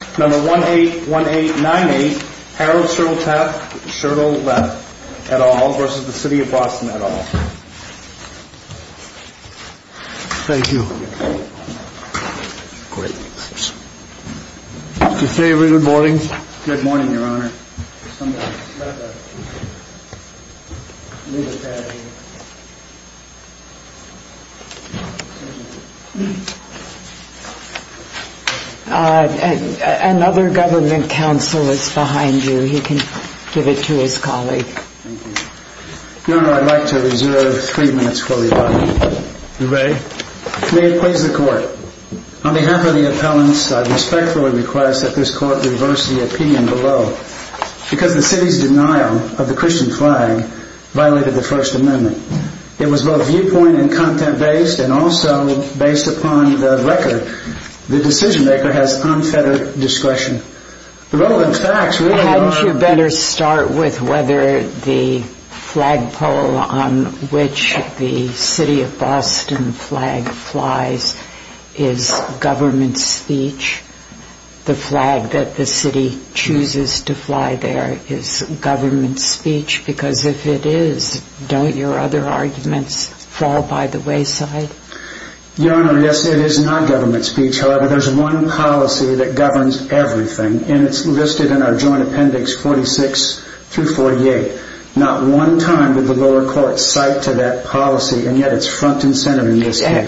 181898 Harold Surtleff v. City of Boston May it please the Court, On behalf of the appellants, I respectfully request that this Court reverse the opinion below, because the City's denial of the Christian flag violated the First Amendment. It was both viewpoint- and content-based, and also based upon the record, the decision-maker has unfettered discretion. The relevant facts really are... Can't you better start with whether the flagpole on which the City of Boston flag flies is government speech? The flag that the City chooses to fly there is government speech? Because if it is, don't your other arguments fall by the wayside? Your Honor, yes, it is not government speech. However, there's one policy that governs everything, and it's listed in our Joint Appendix 46-48. Not one time did the lower court cite to that policy, and yet it's front and center in this case.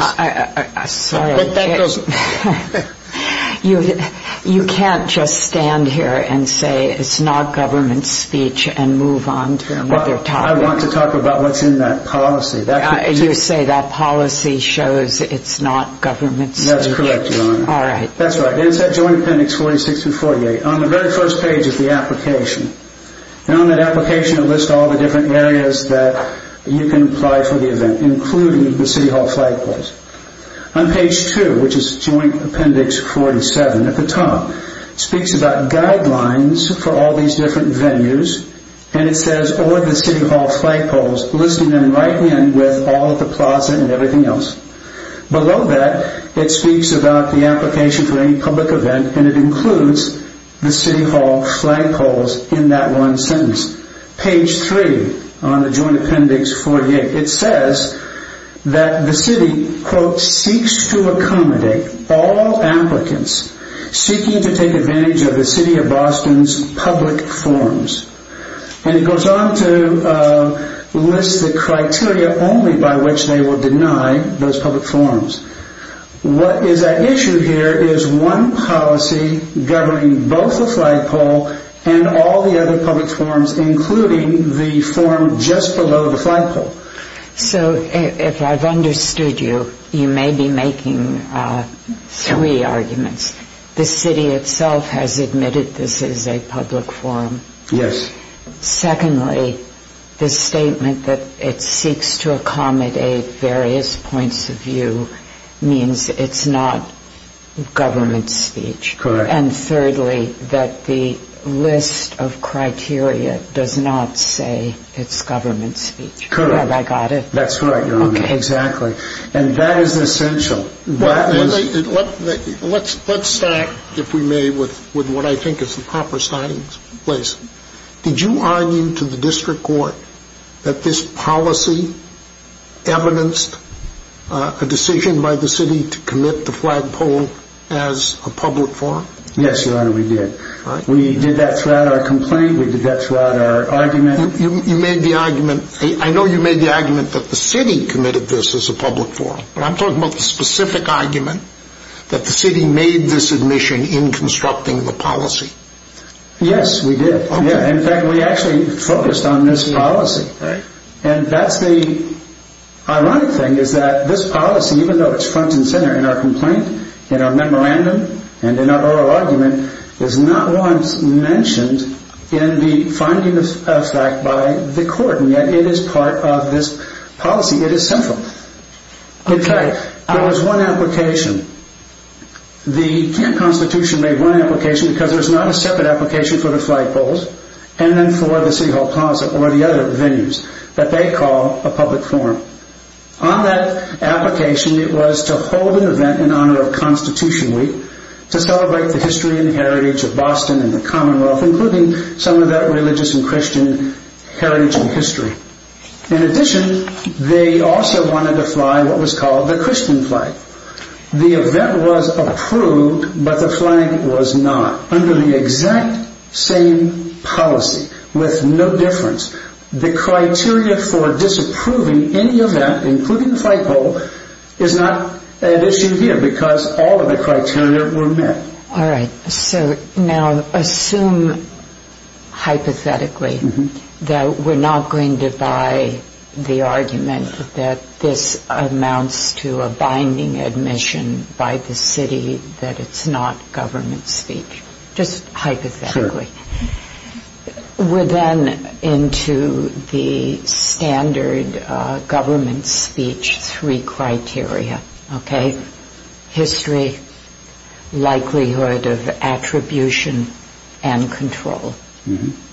You can't just stand here and say it's not government speech and move on from what they're talking about. I want to talk about what's in that policy. You say that policy shows it's not government speech? That's correct, Your Honor. All right. That's right. It's in that Joint Appendix 46-48. On the very first page is the application. On that application, it lists all the different areas that you can apply for the event, including the City Hall flagpoles. On page 2, which is Joint Appendix 47 at the top, speaks about guidelines for all these different venues, and it says, or the City Hall flagpoles, listing them right in with all of the plaza and everything else. Below that, it speaks about the application for any public event, and it includes the City Hall flagpoles in that one sentence. Page 3 on the Joint Appendix 48, it says that the City, quote, seeks to accommodate all applicants seeking to take advantage of the City of Boston's public forums. And it goes on to list the criteria only by which they will deny those public forums. What is at issue here is one policy governing both the flagpole and all the other public forums, including the forum just below the flagpole. So, if I've understood you, you may be making three arguments. The City itself has admitted this is a public forum. Yes. Secondly, the statement that it seeks to accommodate various points of view means it's not government speech. Correct. And thirdly, that the list of criteria does not say it's government speech. Correct. Have I got it? That's right, Your Honor. Okay. Exactly. And that is essential. Let's start, if we may, with what I think is the proper starting place. Did you argue to the District Court that this policy evidenced a decision by the City to commit the flagpole as a public forum? Yes, Your Honor, we did. We did that throughout our complaint. We did that throughout our argument. You made the argument, I know you made the argument that the City committed this as a specific argument, that the City made this admission in constructing the policy. Yes, we did. In fact, we actually focused on this policy. And that's the ironic thing, is that this policy, even though it's front and center in our complaint, in our memorandum, and in our oral argument, is not once mentioned in the finding of fact by the Court, and yet it is part of this policy. It is central. Okay. There was one application. The Kent Constitution made one application, because there's not a separate application for the flagpoles, and then for the City Hall Plaza, or the other venues, that they call a public forum. On that application, it was to hold an event in honor of Constitution Week, to celebrate the history and heritage of Boston and the Commonwealth, including some of that religious and Christian heritage and history. In addition, they also wanted to fly what was called the Christian flag. The event was approved, but the flag was not, under the exact same policy, with no difference. The criteria for disapproving any event, including the flagpole, is not an issue here, because all of the criteria were met. All right. So, now, assume, hypothetically, that we're not going to buy the argument that this amounts to a binding admission by the City that it's not government speech. Just hypothetically. Sure. We're then into the standard government speech three criteria, okay? History, likelihood of attribution, and control.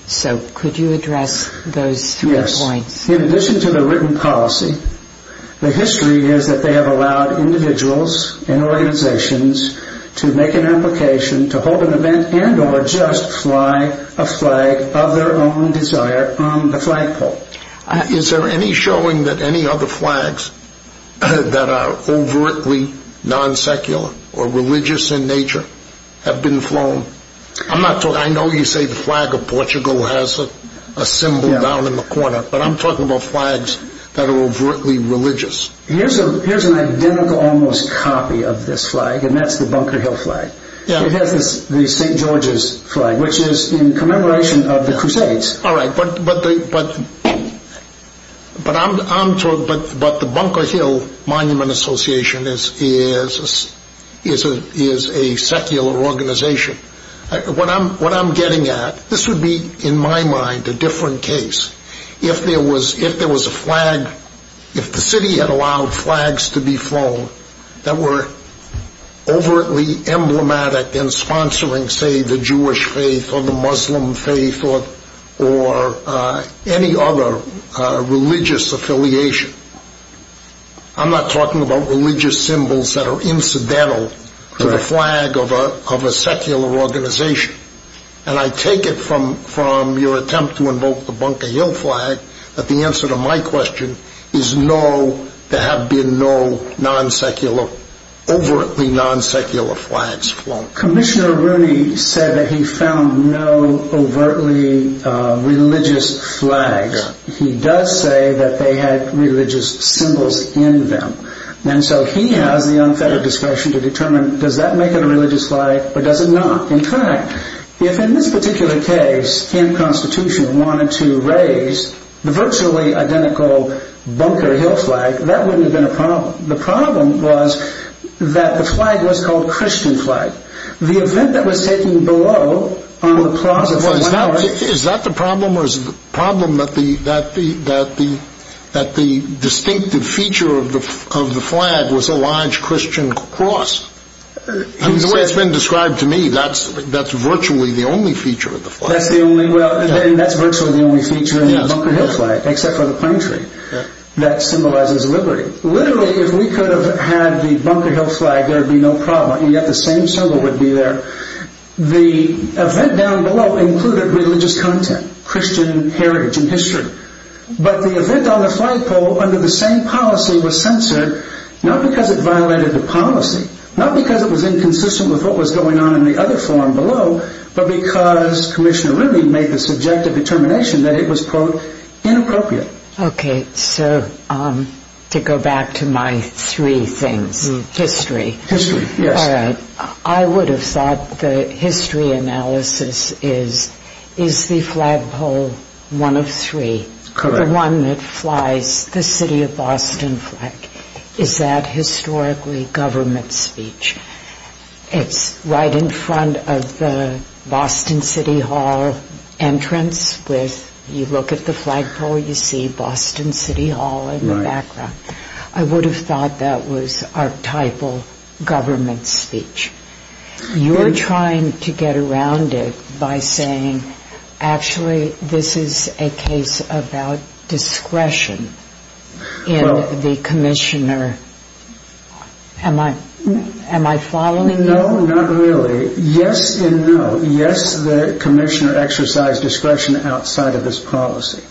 So, could you address those three points? Yes. In addition to the written policy, the history is that they have allowed individuals and organizations to make an application to hold an event and or just fly a flag of their own desire on the flagpole. Is there any showing that any other flags that are overtly non-secular or religious in nature have been flown? I know you say the flag of Portugal has a symbol down in the corner, but I'm talking about flags that are overtly religious. Here's an identical, almost, copy of this flag, and that's the Bunker Hill flag. It has the St. George's flag, which is in commemoration of the Crusades. All right, but the Bunker Hill Monument Association is a secular organization. What I'm getting at, this would be, in my mind, a different case. If there was a flag, if the City had allowed flags to be flown that were overtly emblematic in sponsoring, say, the Jewish faith or the Muslim faith or any other religious affiliation, I'm not talking about religious symbols that are incidental to the flag of a secular organization. And I take it from your attempt to invoke the Bunker Hill flag that the answer to my Commissioner Rooney said that he found no overtly religious flags. He does say that they had religious symbols in them. And so he has the unfettered discretion to determine, does that make it a religious flag or does it not? In fact, if in this particular case, Ken Constitution wanted to raise the virtually identical Bunker Hill flag, that wouldn't have been a problem. The problem was that the flag was called Christian flag. The event that was taken below on the Plaza Flower... Is that the problem, or is the problem that the distinctive feature of the flag was a large Christian cross? The way it's been described to me, that's virtually the only feature of the flag. That's virtually the only feature of the Bunker Hill flag, except for the pine tree. That symbolizes liberty. Literally, if we could have had the Bunker Hill flag, there would be no problem, and yet the same symbol would be there. The event down below included religious content, Christian heritage and history. But the event on the flagpole under the same policy was censored, not because it violated the policy, not because it was inconsistent with what was going on in the other forum below, but because Commissioner Rooney made the subjective determination that it was, quote, inappropriate. Okay, so to go back to my three things, history. History, yes. All right. I would have thought the history analysis is, is the flagpole one of three? Correct. The one that flies the City of Boston flag. Is that historically government speech? It's right in front of the Boston City Hall entrance with... ...the Boston City Hall in the background. I would have thought that was archetypal government speech. You're trying to get around it by saying, actually, this is a case about discretion in the Commissioner. Am I following you? No, not really. Yes and no. Yes, the Commissioner exercised discretion outside of this policy.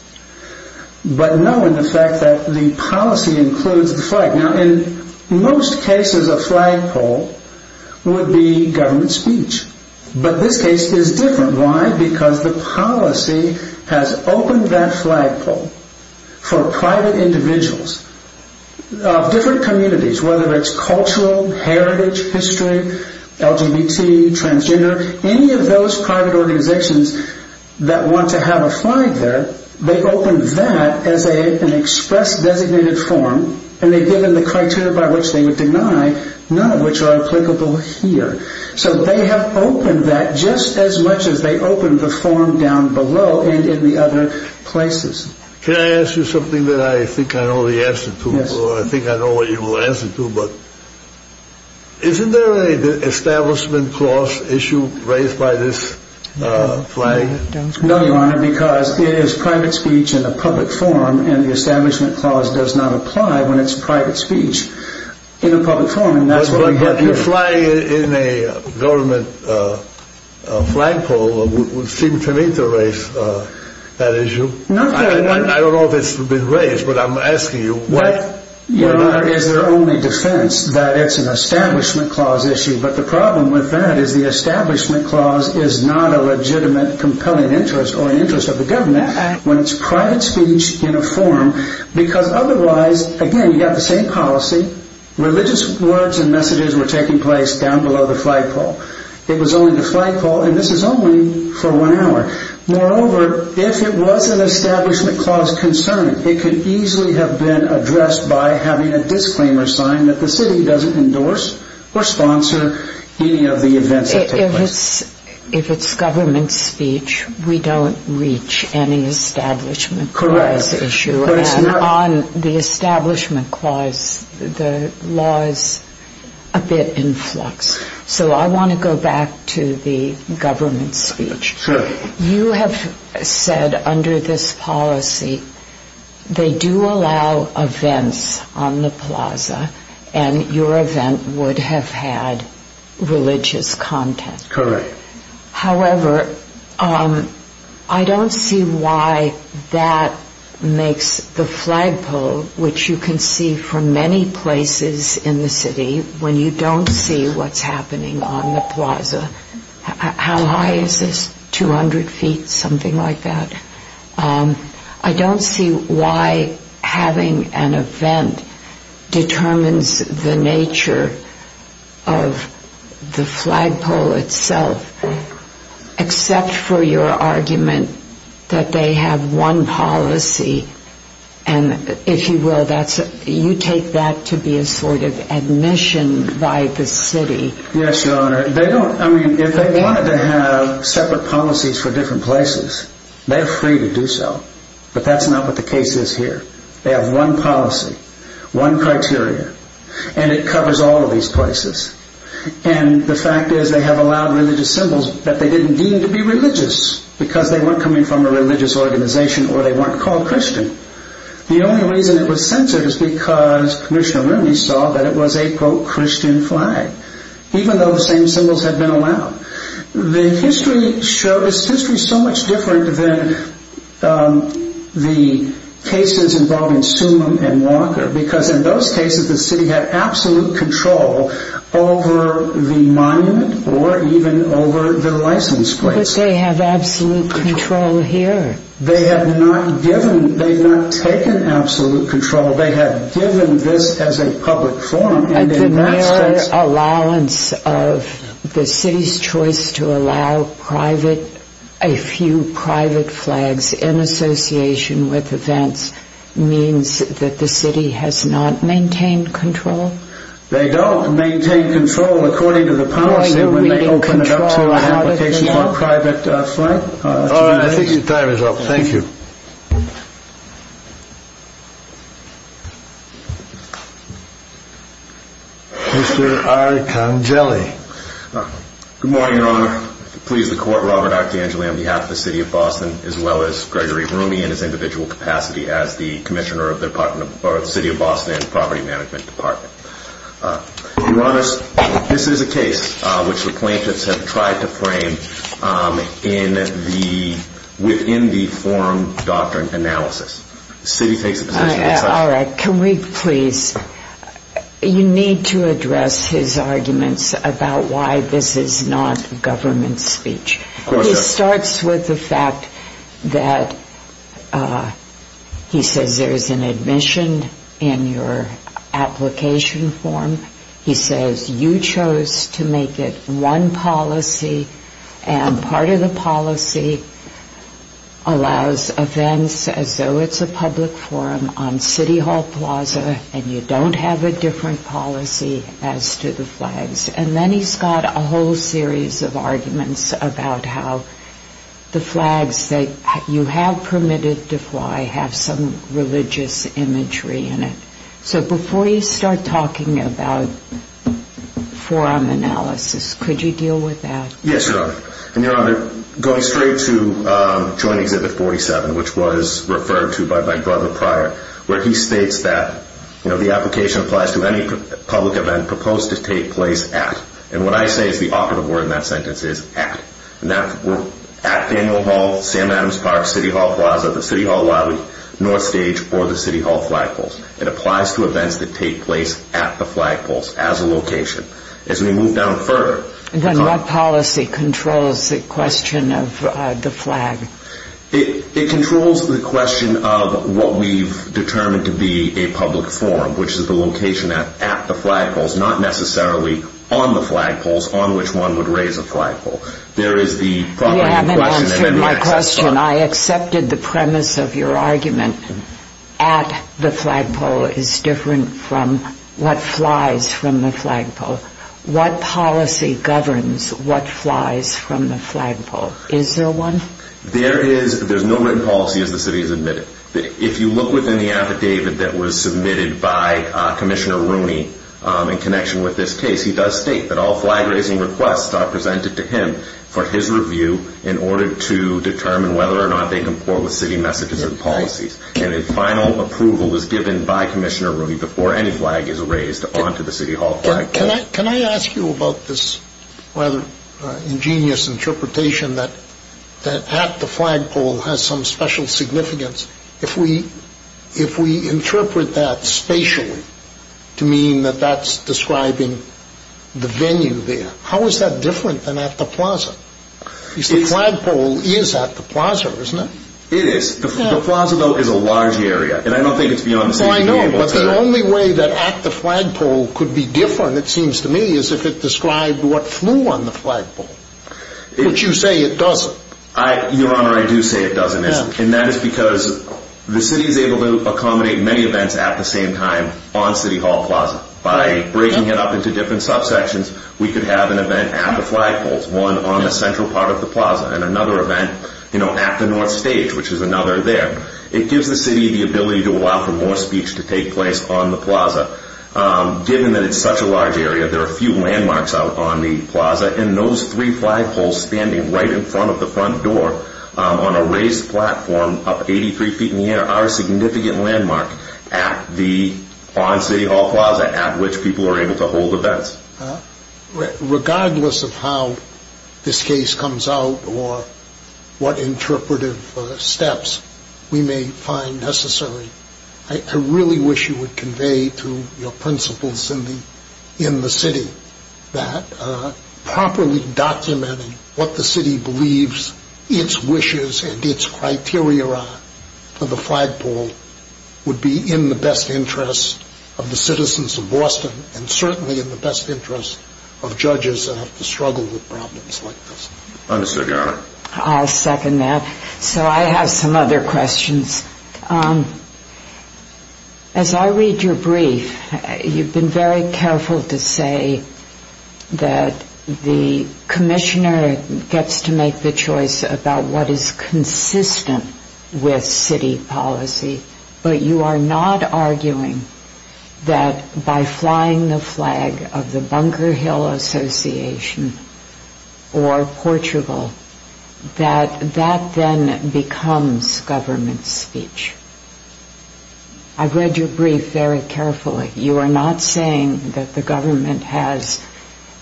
But no in the fact that the policy includes the flag. Now, in most cases, a flagpole would be government speech. But this case is different. Why? Because the policy has opened that flagpole for private individuals of different communities, whether it's cultural, heritage, history, LGBT, transgender, any of those private organizations that want to have a flag there but they've opened that as an express designated form and they've given the criteria by which they would deny none of which are applicable here. So they have opened that just as much as they opened the form down below and in the other places. Can I ask you something that I think I know the answer to? I think I know what you will answer to but isn't there an establishment cost issue raised by this flag? No, Your Honor, because it is private speech in a public forum and the establishment clause does not apply when it's private speech in a public forum. But a flag in a government flagpole would seem to me to raise that issue. I don't know if it's been raised, but I'm asking you. Your Honor, it's their only defense that it's an establishment clause issue but the problem with that is the establishment clause is not a legitimate compelling interest or interest of the government when it's private speech in a forum because otherwise, again, you have the same policy religious words and messages were taking place down below the flagpole. It was only the flagpole and this is only for one hour. Moreover, if it was an establishment clause concern it could easily have been addressed by having a disclaimer sign If it's government speech, we don't reach any establishment clause issue and on the establishment clause, the law is a bit in flux. So I want to go back to the government speech. You have said under this policy they do allow events on the plaza and your event would have had religious content. Correct. However, I don't see why that makes the flagpole which you can see from many places in the city when you don't see what's happening on the plaza How high is this? 200 feet? Something like that. I don't see why having an event determines the nature of the flagpole itself except for your argument that they have one policy and if you will, you take that to be a sort of admission by the city Yes, Your Honor. If they wanted to have separate policies for different places they're free to do so but that's not what the case is here They have one policy, one criteria and it covers all of these places and the fact is they have allowed religious symbols that they didn't deem to be religious because they weren't coming from a religious organization or they weren't called Christian The only reason it was censored is because Commissioner Rooney saw that it was a pro-Christian flag even though the same symbols had been allowed The history is so much different than the cases involving Sumim and Walker because in those cases the city had absolute control over the monument or even over the license plates But they have absolute control here They have not taken absolute control They have given this as a public forum The mere allowance of the city's choice to allow a few private flags in association with events means that the city has not maintained control? They don't maintain control according to the policy when they open it up to applications for a private flag I think your time is up, thank you Mr. Archangeli Good morning, Your Honor I please the Court, Robert Archangeli on behalf of the City of Boston as well as Gregory Rooney in his individual capacity as the Commissioner of the City of Boston and the Property Management Department Your Honors, this is a case which the plaintiffs have tried to frame within the forum doctrine analysis The city takes a position All right, can we please You need to address his arguments about why this is not government speech He starts with the fact that he says there is an admission in your application form He says you chose to make it one policy and part of the policy allows events as though it's a public forum on City Hall Plaza and you don't have a different policy as to the flags and then he's got a whole series of arguments about how the flags that you have permitted to fly have some religious imagery in it So before you start talking about forum analysis could you deal with that? Yes, Your Honor Going straight to Joint Exhibit 47 which was referred to by Brother Pryor where he states that the application applies to any public event proposed to take place at and what I say is the operative word in that sentence is at At Daniel Hall, Sam Adams Park, City Hall Plaza the City Hall Lobby, North Stage or the City Hall Flagpoles It applies to events that take place at the flagpoles as a location As we move down further What policy controls the question of the flag? It controls the question of what we've determined to be a public forum which is the location at the flagpoles not necessarily on the flagpoles on which one would raise a flagpole You haven't answered my question I accepted the premise of your argument At the flagpole is different from what flies from the flagpole What policy governs what flies from the flagpole? Is there one? There is no written policy as the City has admitted If you look within the affidavit that was submitted by Commissioner Rooney in connection with this case he does state that all flag raising requests are presented to him for his review in order to determine whether or not they comport with City messages and policies and a final approval is given by Commissioner Rooney before any flag is raised Can I ask you about this rather ingenious interpretation that at the flagpole has some special significance if we interpret that spatially to mean that that's describing the venue there how is that different than at the plaza? The flagpole is at the plaza, isn't it? It is. The plaza, though, is a large area and I don't think it's beyond the city The city flagpole could be different it seems to me as if it described what flew on the flagpole but you say it doesn't Your Honor, I do say it doesn't and that is because the City is able to accommodate many events at the same time on City Hall Plaza by breaking it up into different subsections we could have an event at the flagpole one on the central part of the plaza and another event at the North Stage which is another there It gives the City the ability to allow for more speech to take place on the plaza given that it's such a large area there are few landmarks out on the plaza and those three flagpoles standing right in front of the front door on a raised platform up 83 feet in the air are a significant landmark on City Hall Plaza at which people are able to hold events Regardless of how this case comes out or what interpretive steps we may find necessary I really wish you would convey to your principals in the City that properly documenting what the City believes its wishes and its criteria are for the flagpole would be in the best interest of the citizens of Boston and certainly in the best interest of judges that have to struggle with problems like this Understood Your Honor I'll second that So I have some other questions As I read your brief you've been very careful to say that the Commissioner gets to make the choice about what is consistent with City policy but you are not arguing that by flying the flag of the or Portugal that that then becomes government speech I've read your brief very carefully you are not saying that the government has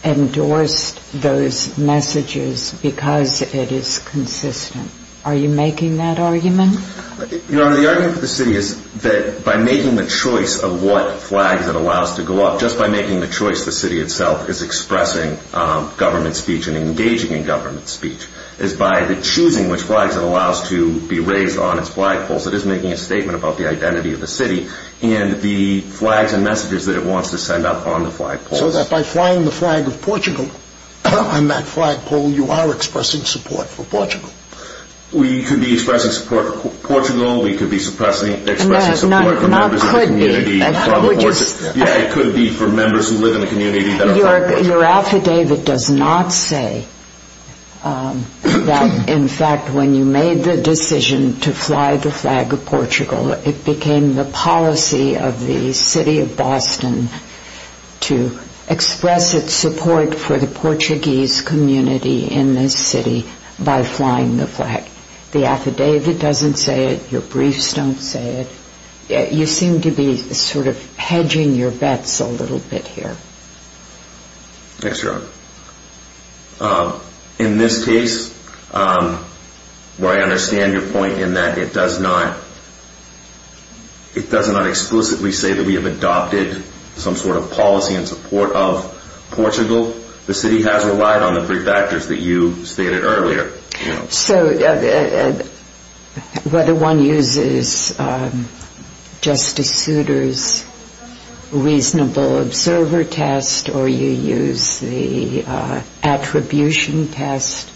endorsed those messages because it is consistent Are you making that argument? Your Honor, the argument for the City is that by making the choice of what flags it allows to go off just by making the choice the City itself is expressing government speech and engaging in government speech is by the choosing which flags it allows to be raised on its flagpole so it is making a statement about the identity of the City and the flags and messages that it wants to send out on the flagpole So that by flying the flag of Portugal on that flagpole you are expressing support for Portugal We could be expressing support for Portugal, we could be expressing support for members of the community Yeah, it could be Your affidavit does not say that in fact when you made the decision to fly the flag of Portugal it became the policy of the City of Boston to express its support for the Portuguese community in this city by flying the flag The affidavit doesn't say it your briefs don't say it You seem to be sort of hedging your bets a little bit here Yes, Your Honor In this case where I understand your point in that it does not it does not explicitly say that we have adopted some sort of policy in support of Portugal, the City has relied on the brief factors that you stated earlier So, whether one uses Justice Souter's reasonable observer test or you use the attribution test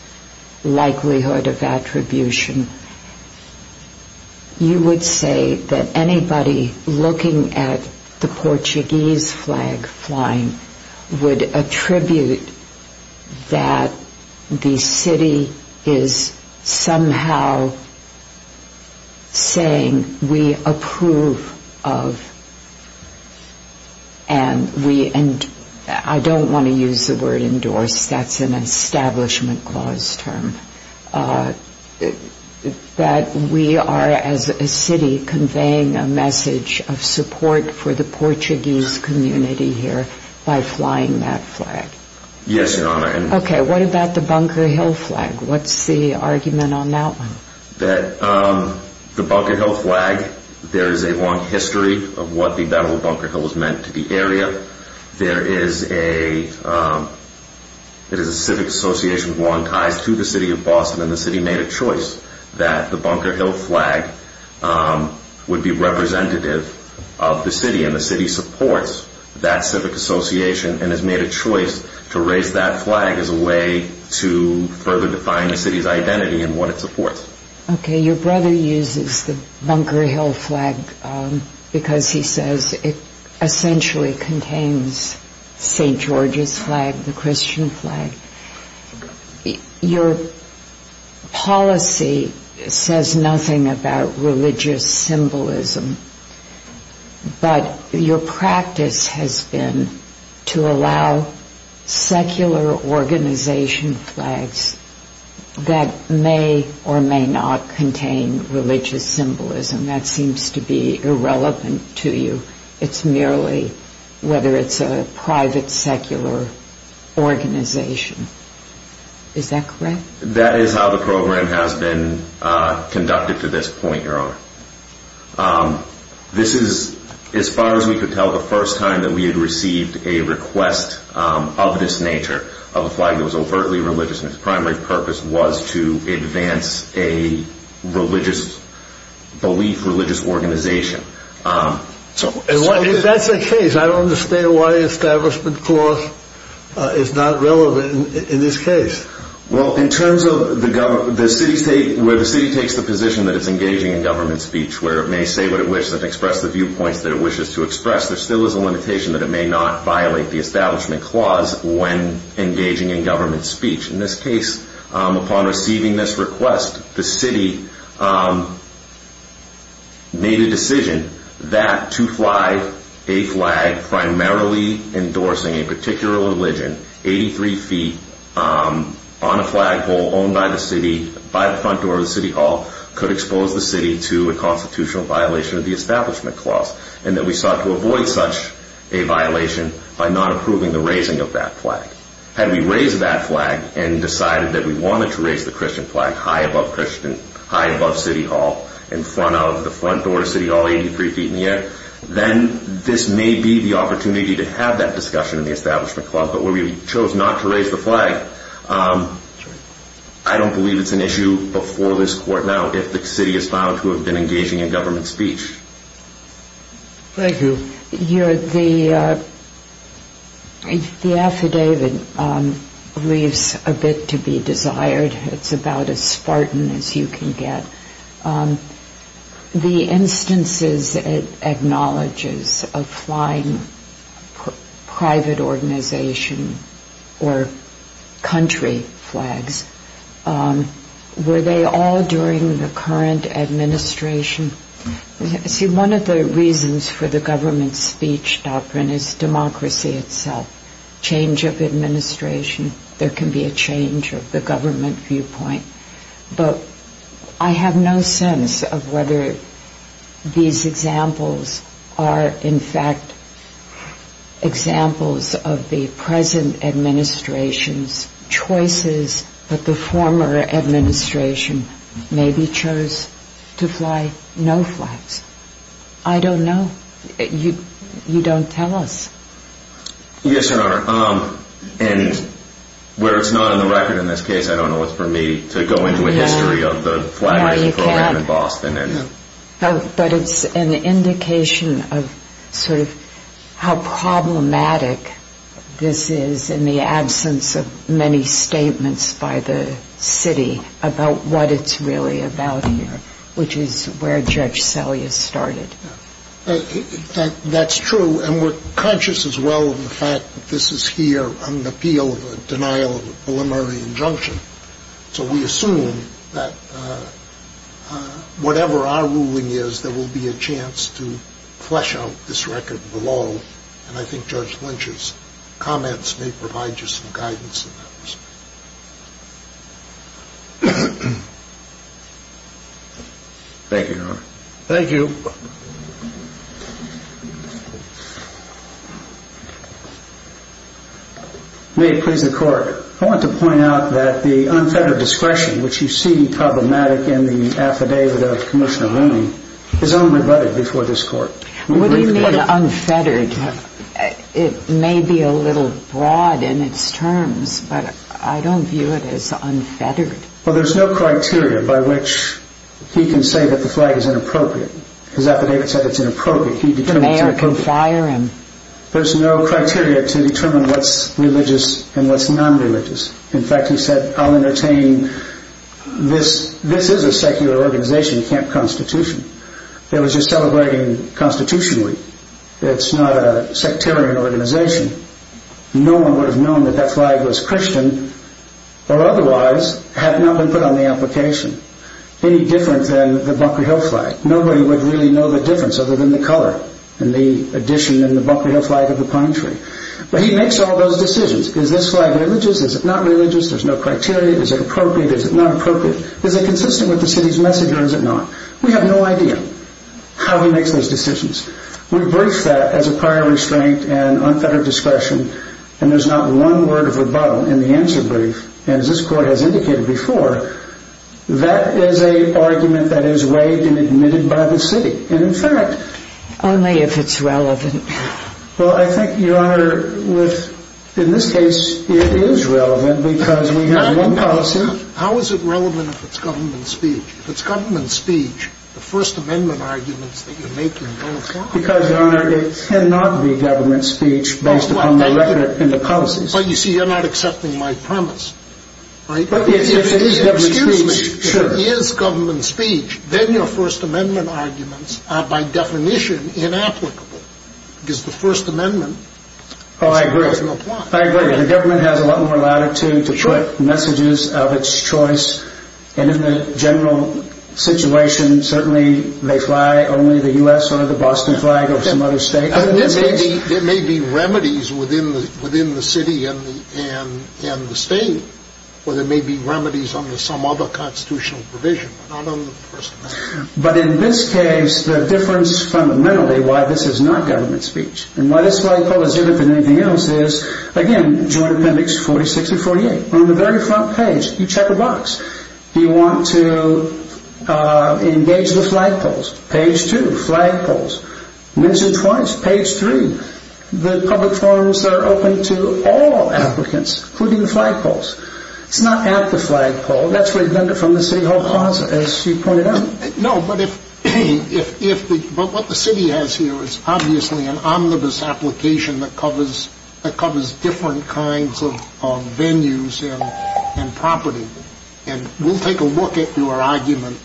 likelihood of attribution you would say that anybody looking at the Portuguese flag flying would attribute that the city is somehow saying we approve of and we I don't want to use the word endorsed, that's an establishment clause term that we are as a city conveying a message of support for the Portuguese community here by flying that flag Yes, Your Honor Ok, what about the Bunker Hill flag what's the argument on that one? The Bunker Hill flag there is a long history of what the battle of Bunker Hill has meant to the area there is a it is a civic association with long ties to the city of Boston and the city made a choice that the Bunker Hill flag would be representative of the city and the city supports that civic association and has made a choice to raise that flag as a way to further define the city's identity and what it supports Ok, your brother uses the Bunker Hill flag because he says it essentially contains St. George's flag the Christian flag your policy says nothing about religious symbolism but your practice has been to allow secular organization flags that may or may not contain religious symbolism that seems to be irrelevant to you it's merely whether it's a private secular organization is that correct? That is how the program has been conducted to this point, Your Honor this is as far as we could tell the first time that we had received a request of this nature of a flag that was overtly religious and it's primary purpose was to advance a religious belief religious organization if that's the case I don't understand why the establishment clause is not relevant in this case where the city takes the position that it's engaging in government speech where it may say what it wishes and express the viewpoints there still is a limitation that it may not violate the establishment clause when engaging in government speech. In this case upon receiving this request the city made a decision that to fly a flag primarily endorsing a particular religion 83 feet on a flagpole owned by the city by the front door of the city hall could expose the city to a constitutional violation of the establishment clause and that we sought to avoid such a violation by not approving the raising of that flag. Had we raised that flag and decided that we wanted to raise the Christian flag high above city hall in front of the front door of city hall 83 feet in the air then this may be the opportunity to have that discussion in the establishment clause but where we chose not to raise the flag I don't believe it's an issue before this court now if the city has vowed to have been engaging in government speech Thank you The affidavit leaves a bit to be desired it's about as spartan as you can get the instances it acknowledges of flying private organization or country flags were they all during the current administration one of the reasons for the government speech is democracy itself change of administration there can be a change of the government viewpoint I have no sense of whether these examples are in fact examples of the present administration's choices but the former administration maybe chose to fly no flags I don't know you don't tell us yes your honor and where it's not in the record in this case I don't know what's for me to go into a history of the flag raising program in Boston but it's an indication of sort of how problematic this is in the absence of many statements by the city about what it's really about which is where judge Selye started that's true and we're conscious as well of the fact that this is here on the appeal of a denial of a preliminary injunction so we assume that whatever our ruling is there will be a chance to flesh out this record below and I think judge Lynch's comments may provide you some guidance thank you your honor thank you may it please the court I want to point out that the unfettered discretion which you see problematic in the affidavit of commissioner Rooney is only butted before this court what do you mean unfettered it may be a little broad in its terms but I don't view it as unfettered well there's no criteria by which he can say that the flag is inappropriate his affidavit said it's inappropriate the mayor can fire him there's no criteria to determine what's religious and what's non-religious in fact he said I'll entertain this is a secular organization you can't constitution it was just celebrating constitutionally it's not a sectarian organization no one would have known that that flag was Christian or otherwise had it not been put on the application any different than the buckery hill flag nobody would really know the difference other than the color and the addition in the buckery hill flag of the pine tree but he makes all those decisions is this flag religious is it not religious there's no criteria is it appropriate is it not appropriate is it consistent with the city's message or is it not we have no idea how he makes those decisions we brief that as a prior restraint and unfettered discretion and there's not one word of rebuttal in the answer brief and as this court has indicated before that is a argument that is waived and admitted by the city only if it's relevant well I think your honor in this case it is relevant because we have one policy how is it relevant if it's government speech if it's government speech the first amendment arguments that you're making don't apply because your honor it cannot be government speech based upon the record in the policies but you see you're not accepting my premise excuse me if it is government speech then your first amendment arguments are by definition inapplicable because the first amendment I agree the government has a lot more latitude to put messages of it's choice and in the general situation certainly they fly only the U.S. or the Boston flag or some other state there may be remedies within the city and the state or there may be remedies under some other constitutional provision but not under the first amendment but in this case the difference fundamentally why this is not government speech and why this flagpole is different than anything else is again joint appendix 46 and 48 on the very front page you check a box do you want to engage the flagpoles page 2 flagpoles once or twice page 3 the public forums are open to all applicants including the flagpoles it's not at the flagpole that's redundant from the city hall closet as you pointed out no but if but what the city has here is obviously an omnibus application that covers different kinds of venues and property and we'll take a look at your argument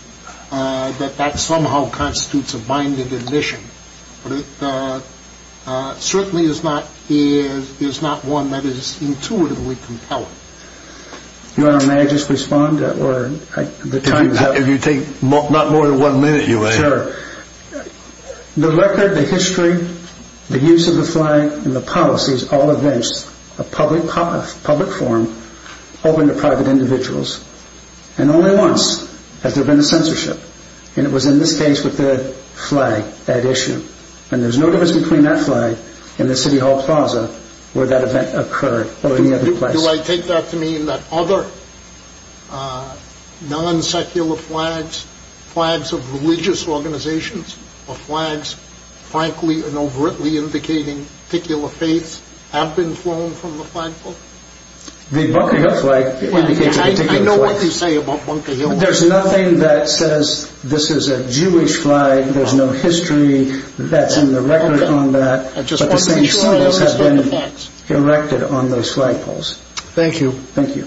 that that somehow constitutes a binded admission but it certainly is not one that is intuitively compelling your honor may I just respond if you take not more than one minute your honor the record the history the use of the flag and the policies all events a public forum open to private individuals and only once has there been a censorship and it was in this case with the flag that issue and there's no difference between that flag where that event occurred or any other place do I take that to mean that other non-secular flags flags of religious organizations or flags frankly and overtly indicating particular faiths have been flown from the flagpole the bunker hill flag I know what you say about bunker hill there's nothing that says this is a jewish flag there's no history that's in the record on that but the same symbols have been erected on those flagpoles thank you